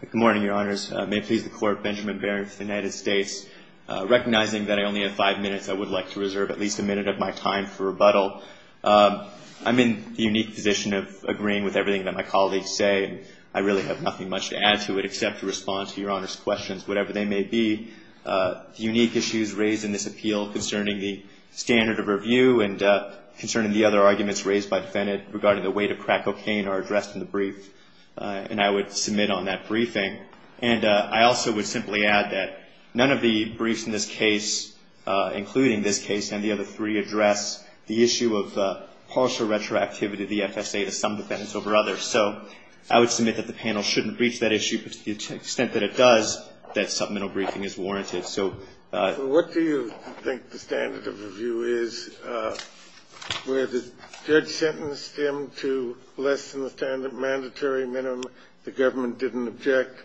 Good morning, your honors. May it please the court, Benjamin Barron of the United States. Recognizing that I only have five minutes, I would like to reserve at least a minute of my time for rebuttal. I'm in the unique position of agreeing with everything that my colleagues say. I really have nothing much to add to it except to respond to your honors' questions, whatever they may be. The unique issues raised in this appeal concerning the standard of review and concerning the other arguments raised by And I would submit on that briefing. And I also would simply add that none of the briefs in this case, including this case, and the other three, address the issue of partial retroactivity of the FSA to some defendants over others. So I would submit that the panel shouldn't breach that issue, but to the extent that it does, that supplemental briefing is warranted. So what do you think the standard of review is where the judge sentenced him to less than the standard of review? Does that seem to be a mandatory minimum the government didn't object,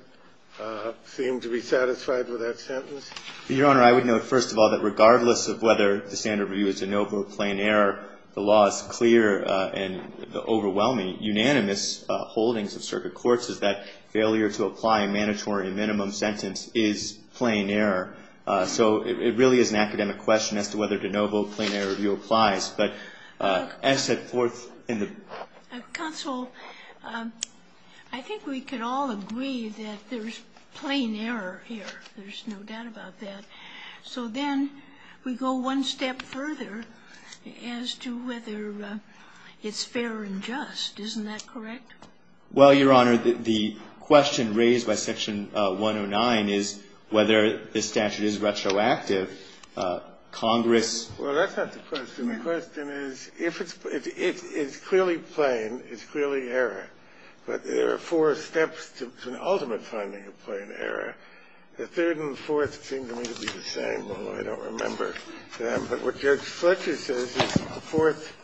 seem to be satisfied with that sentence? Your honor, I would note, first of all, that regardless of whether the standard of review is de novo, plain error, the law is clear and the overwhelming unanimous holdings of circuit courts is that failure to apply a mandatory minimum sentence is plain error. So it really is an academic question as to whether de novo, plain error applies. But as set forth in the... Counsel, I think we can all agree that there's plain error here. There's no doubt about that. So then we go one step further as to whether it's fair and just. Isn't that correct? Well, Your Honor, the question raised by Section 109 is whether the statute is retroactive. Congress... Well, that's not the question. The question is, if it's clearly plain, it's clearly error, but there are four steps to an ultimate finding of plain error. The third and fourth seem to me to be the same, although I don't remember them. But what Judge Fletcher says is the fourth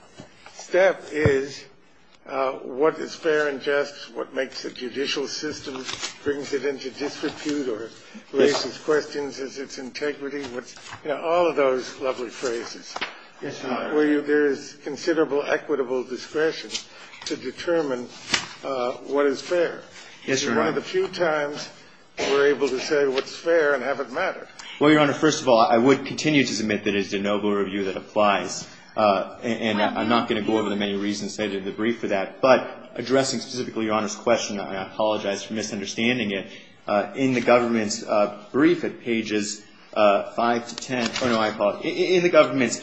step is what is fair and just, what makes a judicial system brings it into disrepute or raises questions is its integrity. You know, all of those lovely phrases. Yes, Your Honor. Where there is considerable equitable discretion to determine what is fair. Yes, Your Honor. And one of the few times we're able to say what's fair and have it matter. Well, Your Honor, first of all, I would continue to submit that it is de novo review that applies, and I'm not going to go over the many reasons stated in the brief for that. But addressing specifically Your Honor's question, and I apologize for misunderstanding it, in the government's brief at pages 5 to 10, oh, no, I apologize. In the government's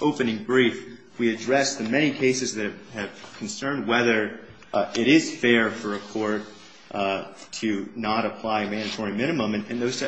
opening brief, we addressed the many cases that have concerned whether it is fair for a court to not apply a mandatory minimum. And those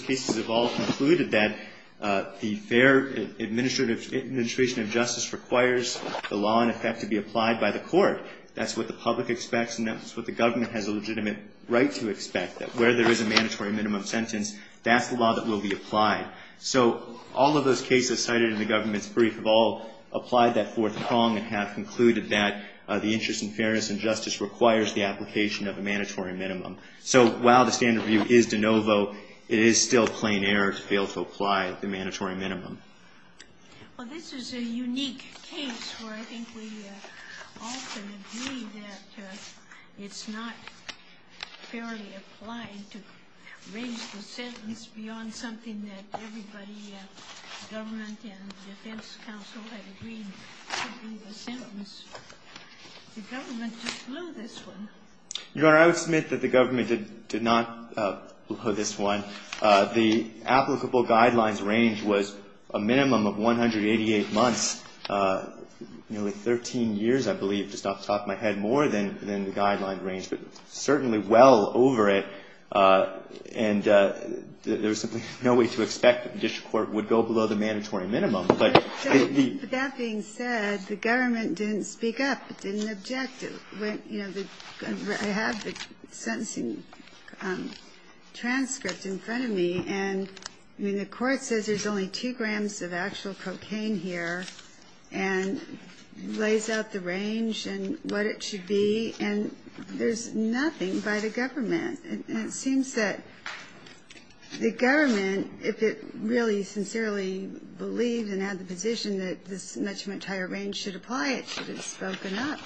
cases have all concluded that the fair administration of justice requires the law in effect to be applied by the court. That's what the public expects, and that's what the government has a legitimate right to expect, that where there is a mandatory minimum sentence, that's the law that will be applied. So all of those cases cited in the government's brief have all applied that fourth prong and have concluded that the interest in fairness and justice requires the application of a mandatory minimum. So while the standard view is de novo, it is still plain error to fail to apply the mandatory minimum. Well, this is a unique case where I think we often agree that it's not fairly applied to raise the sentence beyond something that everybody, government and defense counsel, have agreed to be the sentence. The government just blew this one. Your Honor, I would submit that the government did not blow this one. The applicable guidelines range was a minimum of 188 months, nearly 13 years, I believe, just off the top of my head, more than the guideline range, but certainly well over it. And there was simply no way to expect that the district court would go below the mandatory minimum. But the ---- But that being said, the government didn't speak up, didn't object. I have the sentencing transcript in front of me. And the court says there's only 2 grams of actual cocaine here and lays out the range and what it should be, and there's nothing by the government. And it seems that the government, if it really sincerely believed and had the position that this much, much higher range should apply, it should have spoken up.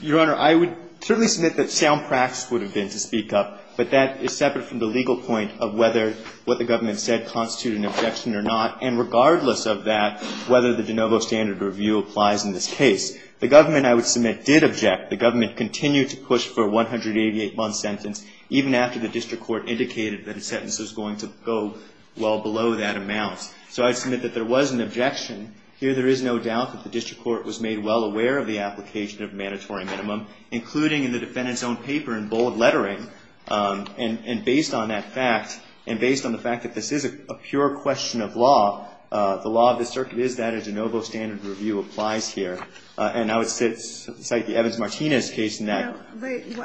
Your Honor, I would certainly submit that sound practice would have been to speak up. But that is separate from the legal point of whether what the government said constituted an objection or not. And regardless of that, whether the de novo standard review applies in this case, the government, I would submit, did object. The government continued to push for a 188-month sentence, even after the district court indicated that a sentence was going to go well below that amount. So I'd submit that there was an objection. Here there is no doubt that the district court was made well aware of the application of a mandatory minimum, including in the defendant's own paper in bold lettering. And based on that fact, and based on the fact that this is a pure question of law, the law of the circuit is that a de novo standard review applies here. And I would cite the Evans-Martinez case in that.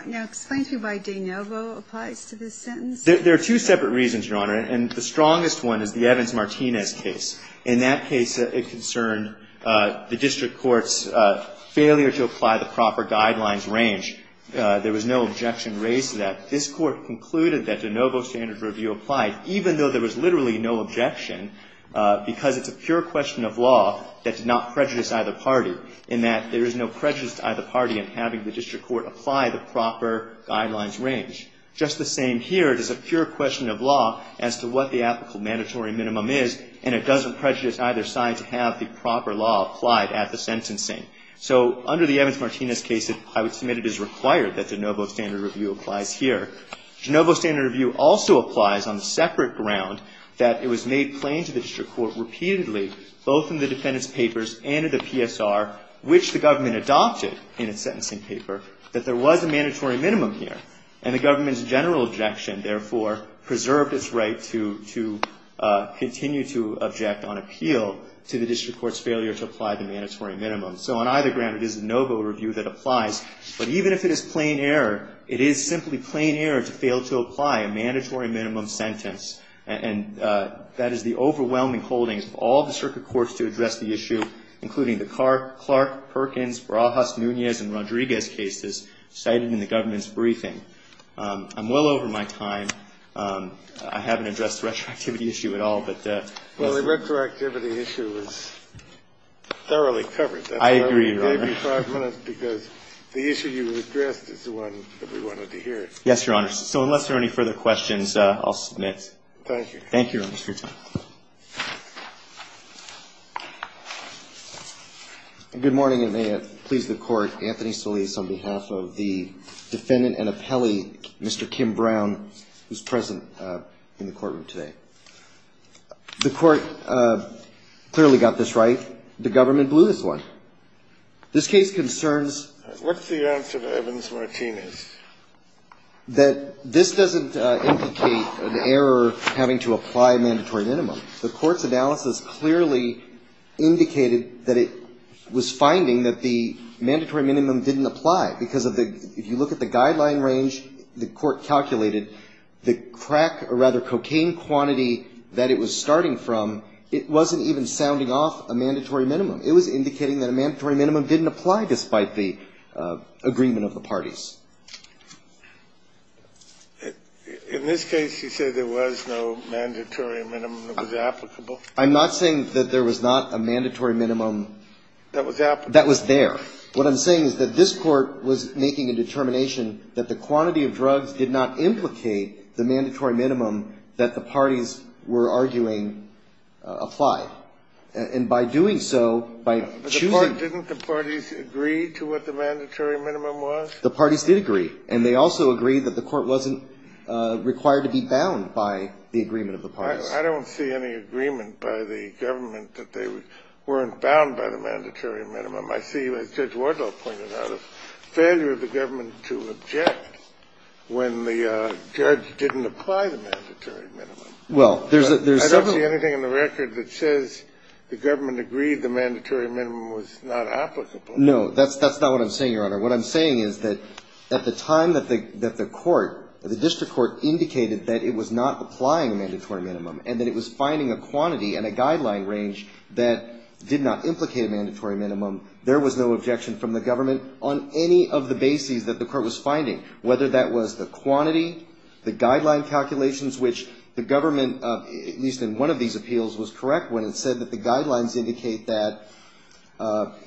Now, explain to me why de novo applies to this sentence. There are two separate reasons, Your Honor. And the strongest one is the Evans-Martinez case. In that case, it concerned the district court's failure to apply the proper guidelines range. There was no objection raised to that. This court concluded that de novo standard review applied, even though there was literally no objection, because it's a pure question of law that did not prejudice either party, in that there is no prejudice to either party in having the district court apply the proper guidelines range. Just the same here, it is a pure question of law as to what the applicable mandatory minimum is, and it doesn't prejudice either side to have the proper law applied at the sentencing. So under the Evans-Martinez case, I would submit it is required that de novo standard review applies here. De novo standard review also applies on the separate ground that it was made plain to the district court repeatedly, both in the defendant's papers and in the PSR, which the government adopted in its sentencing paper, that there was a mandatory minimum here. And the government's general objection, therefore, preserved its right to continue to object on appeal to the district court's failure to apply the mandatory minimum. So on either ground, it is de novo review that applies. But even if it is plain error, it is simply plain error to fail to apply a mandatory minimum sentence, and that is the overwhelming holdings of all district courts to address the issue, including the Clark, Perkins, Barajas, Nunez, and Rodriguez cases cited in the government's briefing. I'm well over my time. I haven't addressed the retroactivity issue at all, but yes. Well, the retroactivity issue is thoroughly covered. I agree, Your Honor. I gave you five minutes because the issue you addressed is the one that we wanted to hear. Yes, Your Honor. So unless there are any further questions, I'll submit. Thank you. Thank you, Your Honor. It's your time. Good morning, and may it please the Court. Good morning, and may it please the Court. Anthony Solis on behalf of the defendant and appellee, Mr. Kim Brown, who is present in the courtroom today. The Court clearly got this right. The government blew this one. This case concerns the court's analysis clearly indicated that it was finding that the mandatory minimum didn't apply because of the – if you look at the guideline range the court calculated, the crack or rather cocaine quantity that it was starting from, it wasn't even sounding off a mandatory minimum. It was indicating that a mandatory minimum didn't apply despite the agreement of the parties. In this case, you say there was no mandatory minimum that was applicable? I'm not saying that there was not a mandatory minimum that was there. What I'm saying is that this court was making a determination that the quantity of drugs did not implicate the mandatory minimum that the parties were arguing applied. And by doing so, by choosing – Didn't the parties agree to what the mandatory minimum was? The parties did agree. And they also agreed that the court wasn't required to be bound by the agreement of the parties. I don't see any agreement by the government that they weren't bound by the mandatory minimum. I see, as Judge Wardle pointed out, a failure of the government to object when the judge didn't apply the mandatory minimum. Well, there's several – I don't see anything in the record that says the government agreed the mandatory minimum was not applicable. No, that's not what I'm saying, Your Honor. What I'm saying is that at the time that the court, the district court indicated that it was not applying a mandatory minimum and that it was finding a quantity and a guideline range that did not implicate a mandatory minimum, there was no objection from the government on any of the bases that the court was finding, whether that was the quantity, the guideline calculations, which the government, at least in one of these appeals, was correct when it said that the guidelines indicate that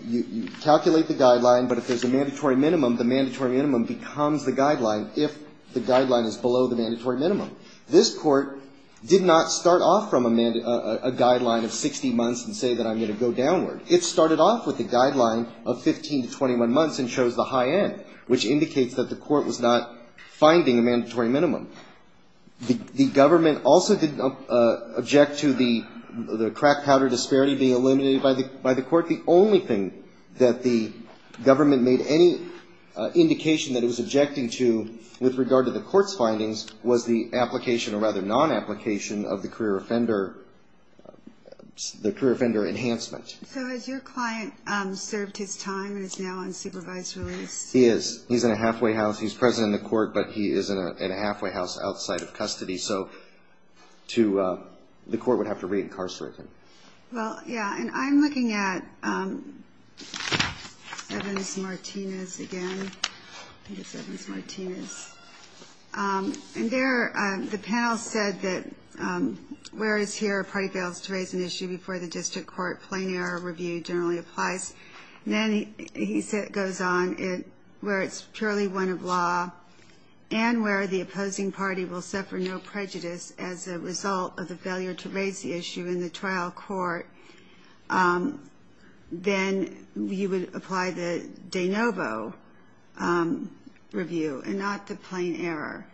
you calculate the guideline, but if there's a mandatory minimum, the mandatory minimum becomes the guideline if the guideline is below the mandatory minimum. This court did not start off from a guideline of 60 months and say that I'm going to go downward. It started off with a guideline of 15 to 21 months and chose the high end, which indicates that the court was not finding a mandatory minimum. The government also didn't object to the crack powder disparity being eliminated by the court. In fact, the only thing that the government made any indication that it was objecting to with regard to the court's findings was the application or rather non-application of the career offender enhancement. So has your client served his time and is now on supervised release? He is. He's in a halfway house. He's present in the court, but he is in a halfway house outside of custody, so the court would have to re-incarcerate him. Well, yeah, and I'm looking at Evans-Martinez again. I think it's Evans-Martinez. And there the panel said that whereas here a party fails to raise an issue before the district court, plain error review generally applies. And then he goes on where it's purely one of law and where the opposing party will apply the Danovo review and not the plain error.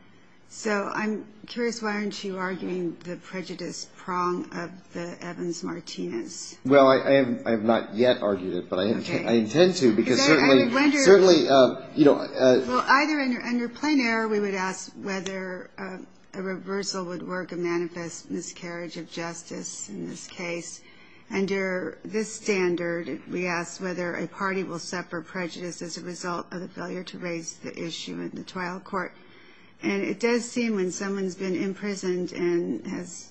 So I'm curious why aren't you arguing the prejudice prong of the Evans-Martinez? Well, I have not yet argued it, but I intend to because certainly you know. Well, either under plain error we would ask whether a reversal would work a manifest miscarriage of justice in this case. Under this standard we ask whether a party will suffer prejudice as a result of the failure to raise the issue in the trial court. And it does seem when someone's been imprisoned and has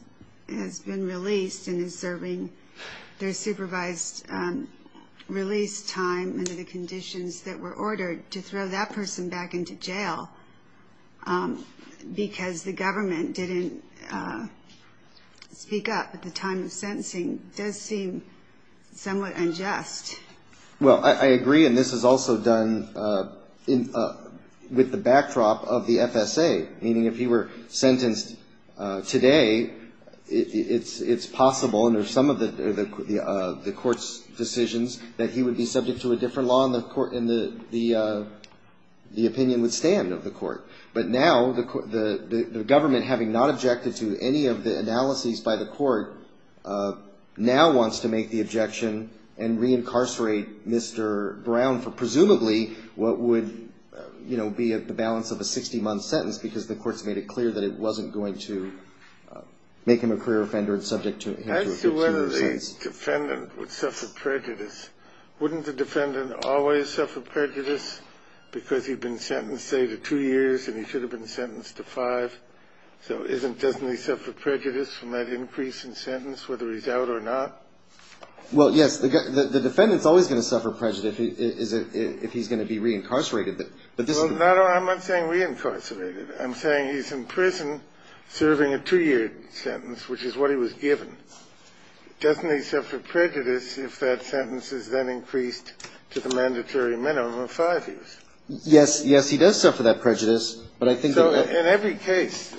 been released and is serving their supervised release time under the conditions that were ordered to throw that person back into jail because the government didn't speak up at the time of sentencing, it does seem somewhat unjust. Well, I agree, and this is also done with the backdrop of the FSA, meaning if he were sentenced today, it's possible under some of the court's decisions that he would be subject to a different law and the opinion would stand of the court. But now the government, having not objected to any of the analyses by the court, now wants to make the objection and reincarcerate Mr. Brown for presumably what would, you know, be the balance of a 60-month sentence because the court's made it clear that it wasn't going to make him a clear offender and subject him to a 15-year sentence. So the defendant would suffer prejudice. Wouldn't the defendant always suffer prejudice because he'd been sentenced, say, to two years and he should have been sentenced to five? So doesn't he suffer prejudice from that increase in sentence whether he's out or not? Well, yes. The defendant's always going to suffer prejudice if he's going to be reincarcerated. Well, I'm not saying reincarcerated. I'm saying he's in prison serving a two-year sentence, which is what he was given. Doesn't he suffer prejudice if that sentence is then increased to the mandatory minimum of five years? Yes. Yes, he does suffer that prejudice. But I think that what he's going to suffer is prejudice. So in every case,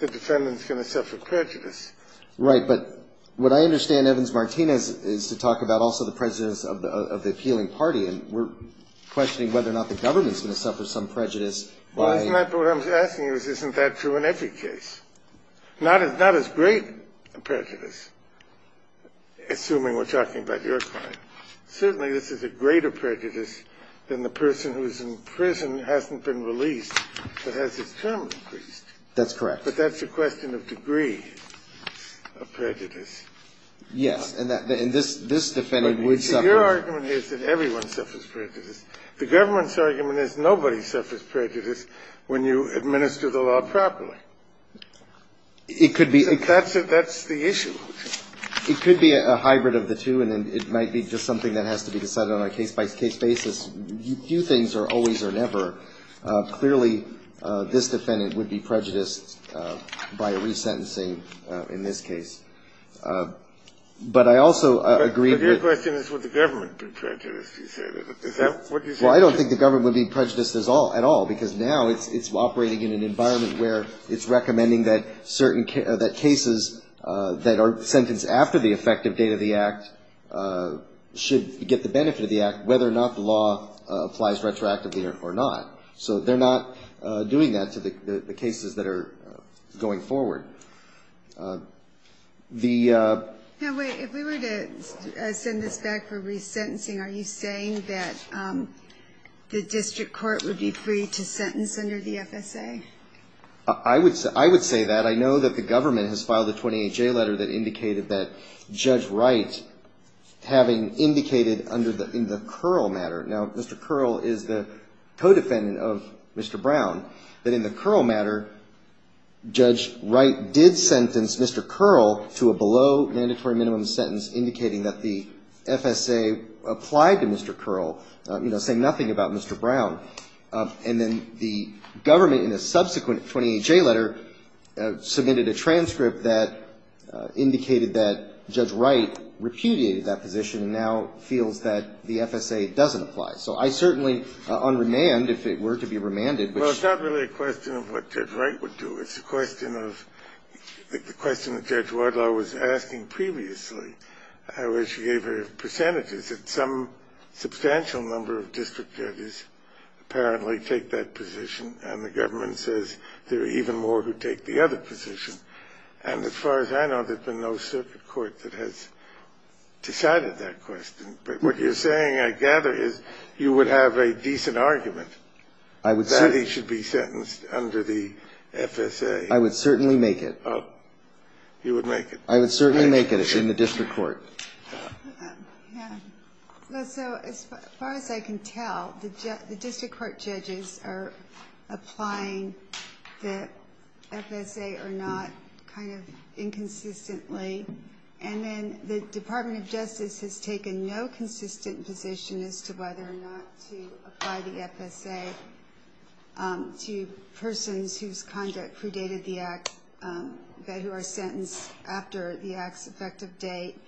the defendant's going to suffer prejudice. Right. But what I understand Evans-Martinez is to talk about also the prejudice of the appealing party, and we're questioning whether or not the government's going to suffer some prejudice by the government. Well, isn't that what I'm asking you is, isn't that true in every case? It's not as great a prejudice, assuming we're talking about your client. Certainly, this is a greater prejudice than the person who's in prison, hasn't been released, but has his term increased. That's correct. But that's a question of degree of prejudice. Yes. And this defendant would suffer prejudice. Your argument is that everyone suffers prejudice. The government's argument is nobody suffers prejudice when you administer the law properly. It could be. That's the issue. It could be a hybrid of the two, and it might be just something that has to be decided on a case-by-case basis. Few things are always or never. Clearly, this defendant would be prejudiced by a resentencing in this case. But I also agree that the government would be prejudiced. Is that what you're saying? Well, I don't think the government would be prejudiced at all, because now it's operating in an environment where it's recommending that cases that are sentenced after the effective date of the act should get the benefit of the act, whether or not the law applies retroactively or not. So they're not doing that to the cases that are going forward. Now, wait. If we were to send this back for resentencing, are you saying that the district court would be free to sentence under the FSA? I would say that. I know that the government has filed a 28-J letter that indicated that Judge Wright, having indicated in the Curl matter, now, Mr. Curl is the co-defendant of Mr. Brown, that in the Curl matter, Judge Wright did sentence Mr. Curl to a below-mandatory-minimum sentence indicating that the FSA applied to Mr. Curl, saying nothing about Mr. Brown. And then the government, in a subsequent 28-J letter, submitted a transcript that indicated that Judge Wright repudiated that position and now feels that the FSA doesn't apply. So I certainly unremand, if it were to be remanded. Well, it's not really a question of what Judge Wright would do. It's a question of the question that Judge Wardlaw was asking previously, where she gave a number of percentages that some substantial number of district judges apparently take that position, and the government says there are even more who take the other position. And as far as I know, there's been no circuit court that has decided that question. But what you're saying, I gather, is you would have a decent argument that he should be sentenced under the FSA. I would certainly make it. You would make it? I would certainly make it in the district court. Yeah. So as far as I can tell, the district court judges are applying the FSA or not kind of inconsistently. And then the Department of Justice has taken no consistent position as to whether or not to apply the FSA to persons whose conduct predated the act, who are sentenced after the act's effective date,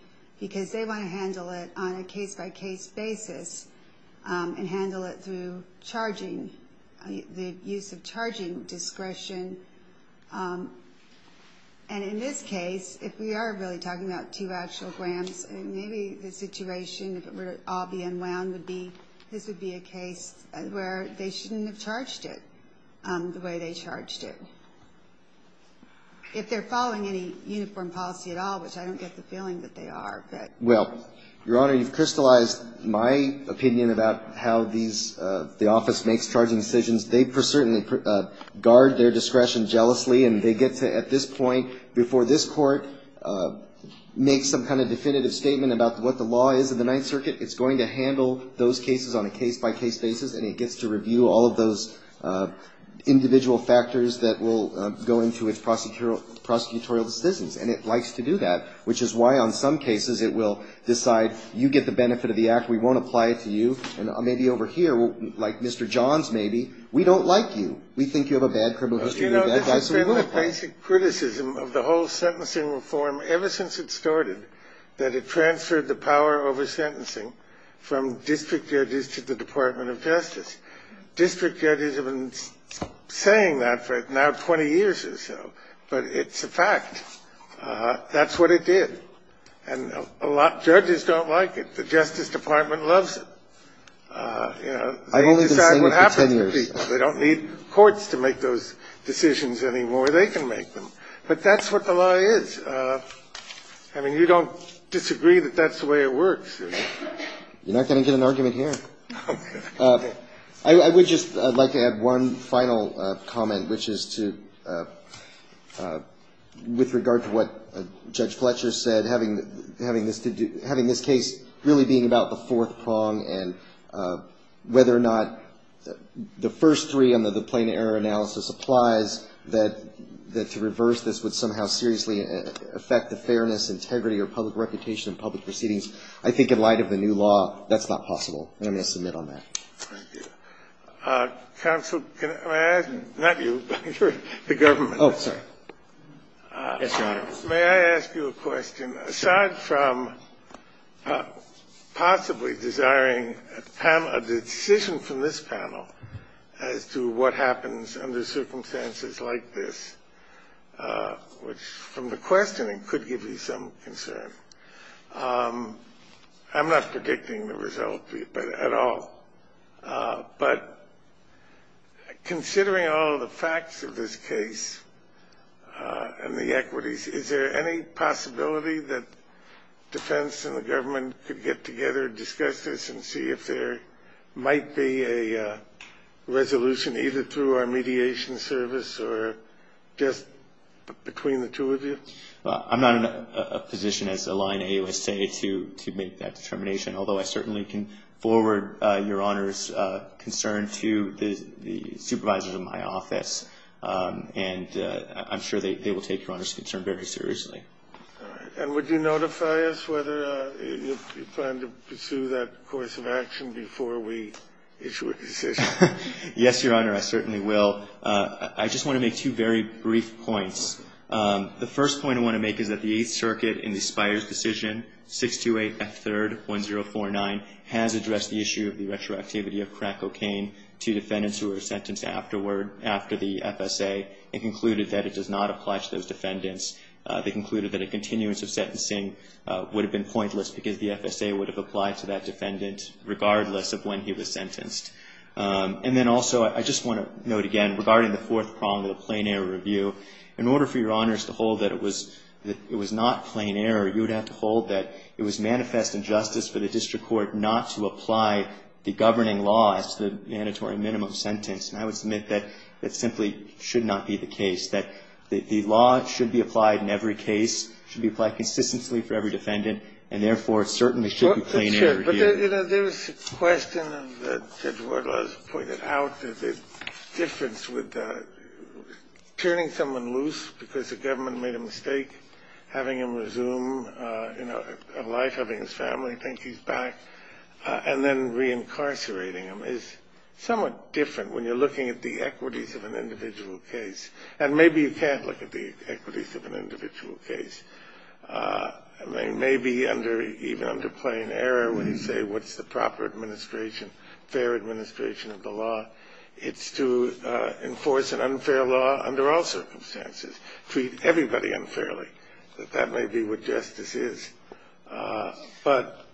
because they want to handle it on a case-by-case basis and handle it through charging, the use of charging discretion. And in this case, if we are really talking about two actual grams, maybe the situation, if it were all being wound, would be this would be a case where they shouldn't have charged it the way they charged it. If they're following any uniform policy at all, which I don't get the feeling that they are, but. Well, Your Honor, you've crystallized my opinion about how these, the office makes charging decisions. They certainly guard their discretion jealously, and they get to, at this point, before this court makes some kind of definitive statement about what the law is in the Ninth Circuit, it's going to handle those cases on a case-by-case basis, and it gets to its prosecutorial decisions. And it likes to do that, which is why, on some cases, it will decide you get the benefit of the act, we won't apply it to you. And maybe over here, like Mr. Johns, maybe, we don't like you. We think you have a bad criminal history. That's what we look for. You know, this is fairly basic criticism of the whole sentencing reform ever since it started, that it transferred the power over sentencing from district judges to the Department of Justice. District judges have been saying that for now 20 years or so, but it's a fact. That's what it did. And a lot of judges don't like it. The Justice Department loves it. I've only been saying it for 10 years. They don't need courts to make those decisions anymore. They can make them. But that's what the law is. I mean, you don't disagree that that's the way it works. You're not going to get an argument here. I would just like to add one final comment, which is to, with regard to what Judge Fletcher said, having this case really being about the fourth prong and whether or not the first three under the plain error analysis applies, that to reverse this would somehow seriously affect the fairness, integrity, or public reputation of public proceedings. I think in light of the new law, that's not possible. And I'm going to submit on that. Thank you. Counsel, can I ask you, not you, but the government. Oh, sorry. Yes, Your Honor. May I ask you a question? Aside from possibly desiring a decision from this panel as to what happens under circumstances like this, which from the questioning could give you some concern, I'm not predicting the result at all. But considering all the facts of this case and the equities, is there any possibility that defense and the government could get together and discuss this and see if there might be a resolution either through our mediation service or just between the two of you? I'm not in a position as a line AUSA to make that determination, although I certainly can forward Your Honor's concern to the supervisors of my office. And I'm sure they will take Your Honor's concern very seriously. All right. And would you notify us whether you plan to pursue that course of action before we issue a decision? Yes, Your Honor, I certainly will. I just want to make two very brief points. The first point I want to make is that the Eighth Circuit in the Spires decision, 628F3rd1049, has addressed the issue of the retroactivity of crack cocaine to defendants who were sentenced after the FSA and concluded that it does not apply to those defendants. They concluded that a continuance of sentencing would have been pointless because the FSA would have applied to that defendant regardless of when he was sentenced. And then also, I just want to note again, regarding the fourth prong of the plain error review, in order for Your Honors to hold that it was not plain error, you would have to hold that it was manifest injustice for the district court not to apply the governing law as to the mandatory minimum sentence. And I would submit that that simply should not be the case, that the law should be applied in every case, should be applied consistently for every defendant, and therefore, it certainly should be plain error here. You know, there was a question that Judge Wardlaw has pointed out that the difference with turning someone loose because the government made a mistake, having him resume a life, having his family think he's back, and then reincarcerating him is somewhat different when you're looking at the equities of an individual case. And maybe you can't look at the equities of an individual case. It may be even under plain error when you say what's the proper administration, fair administration of the law. It's to enforce an unfair law under all circumstances, treat everybody unfairly, that that may be what justice is. But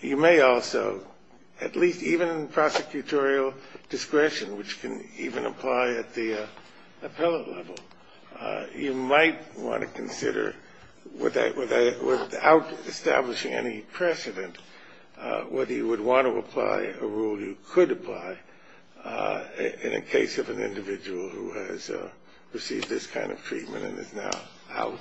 you may also, at least even in prosecutorial discretion, which can even apply at the appellate level, you might want to consider, without establishing any precedent, whether you would want to apply a rule you could apply in a case of an individual who has received this kind of treatment and is now out.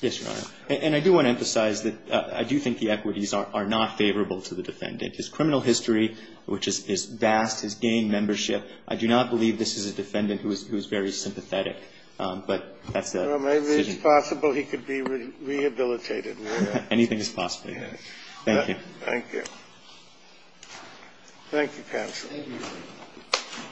Yes, Your Honor. And I do want to emphasize that I do think the equities are not favorable to the defendant. His criminal history, which is vast, his gang membership, I do not believe this is a defendant who is very sympathetic. But that's the decision. Well, maybe it's possible he could be rehabilitated. Anything is possible. Thank you. Thank you. Thank you, counsel. Thank you.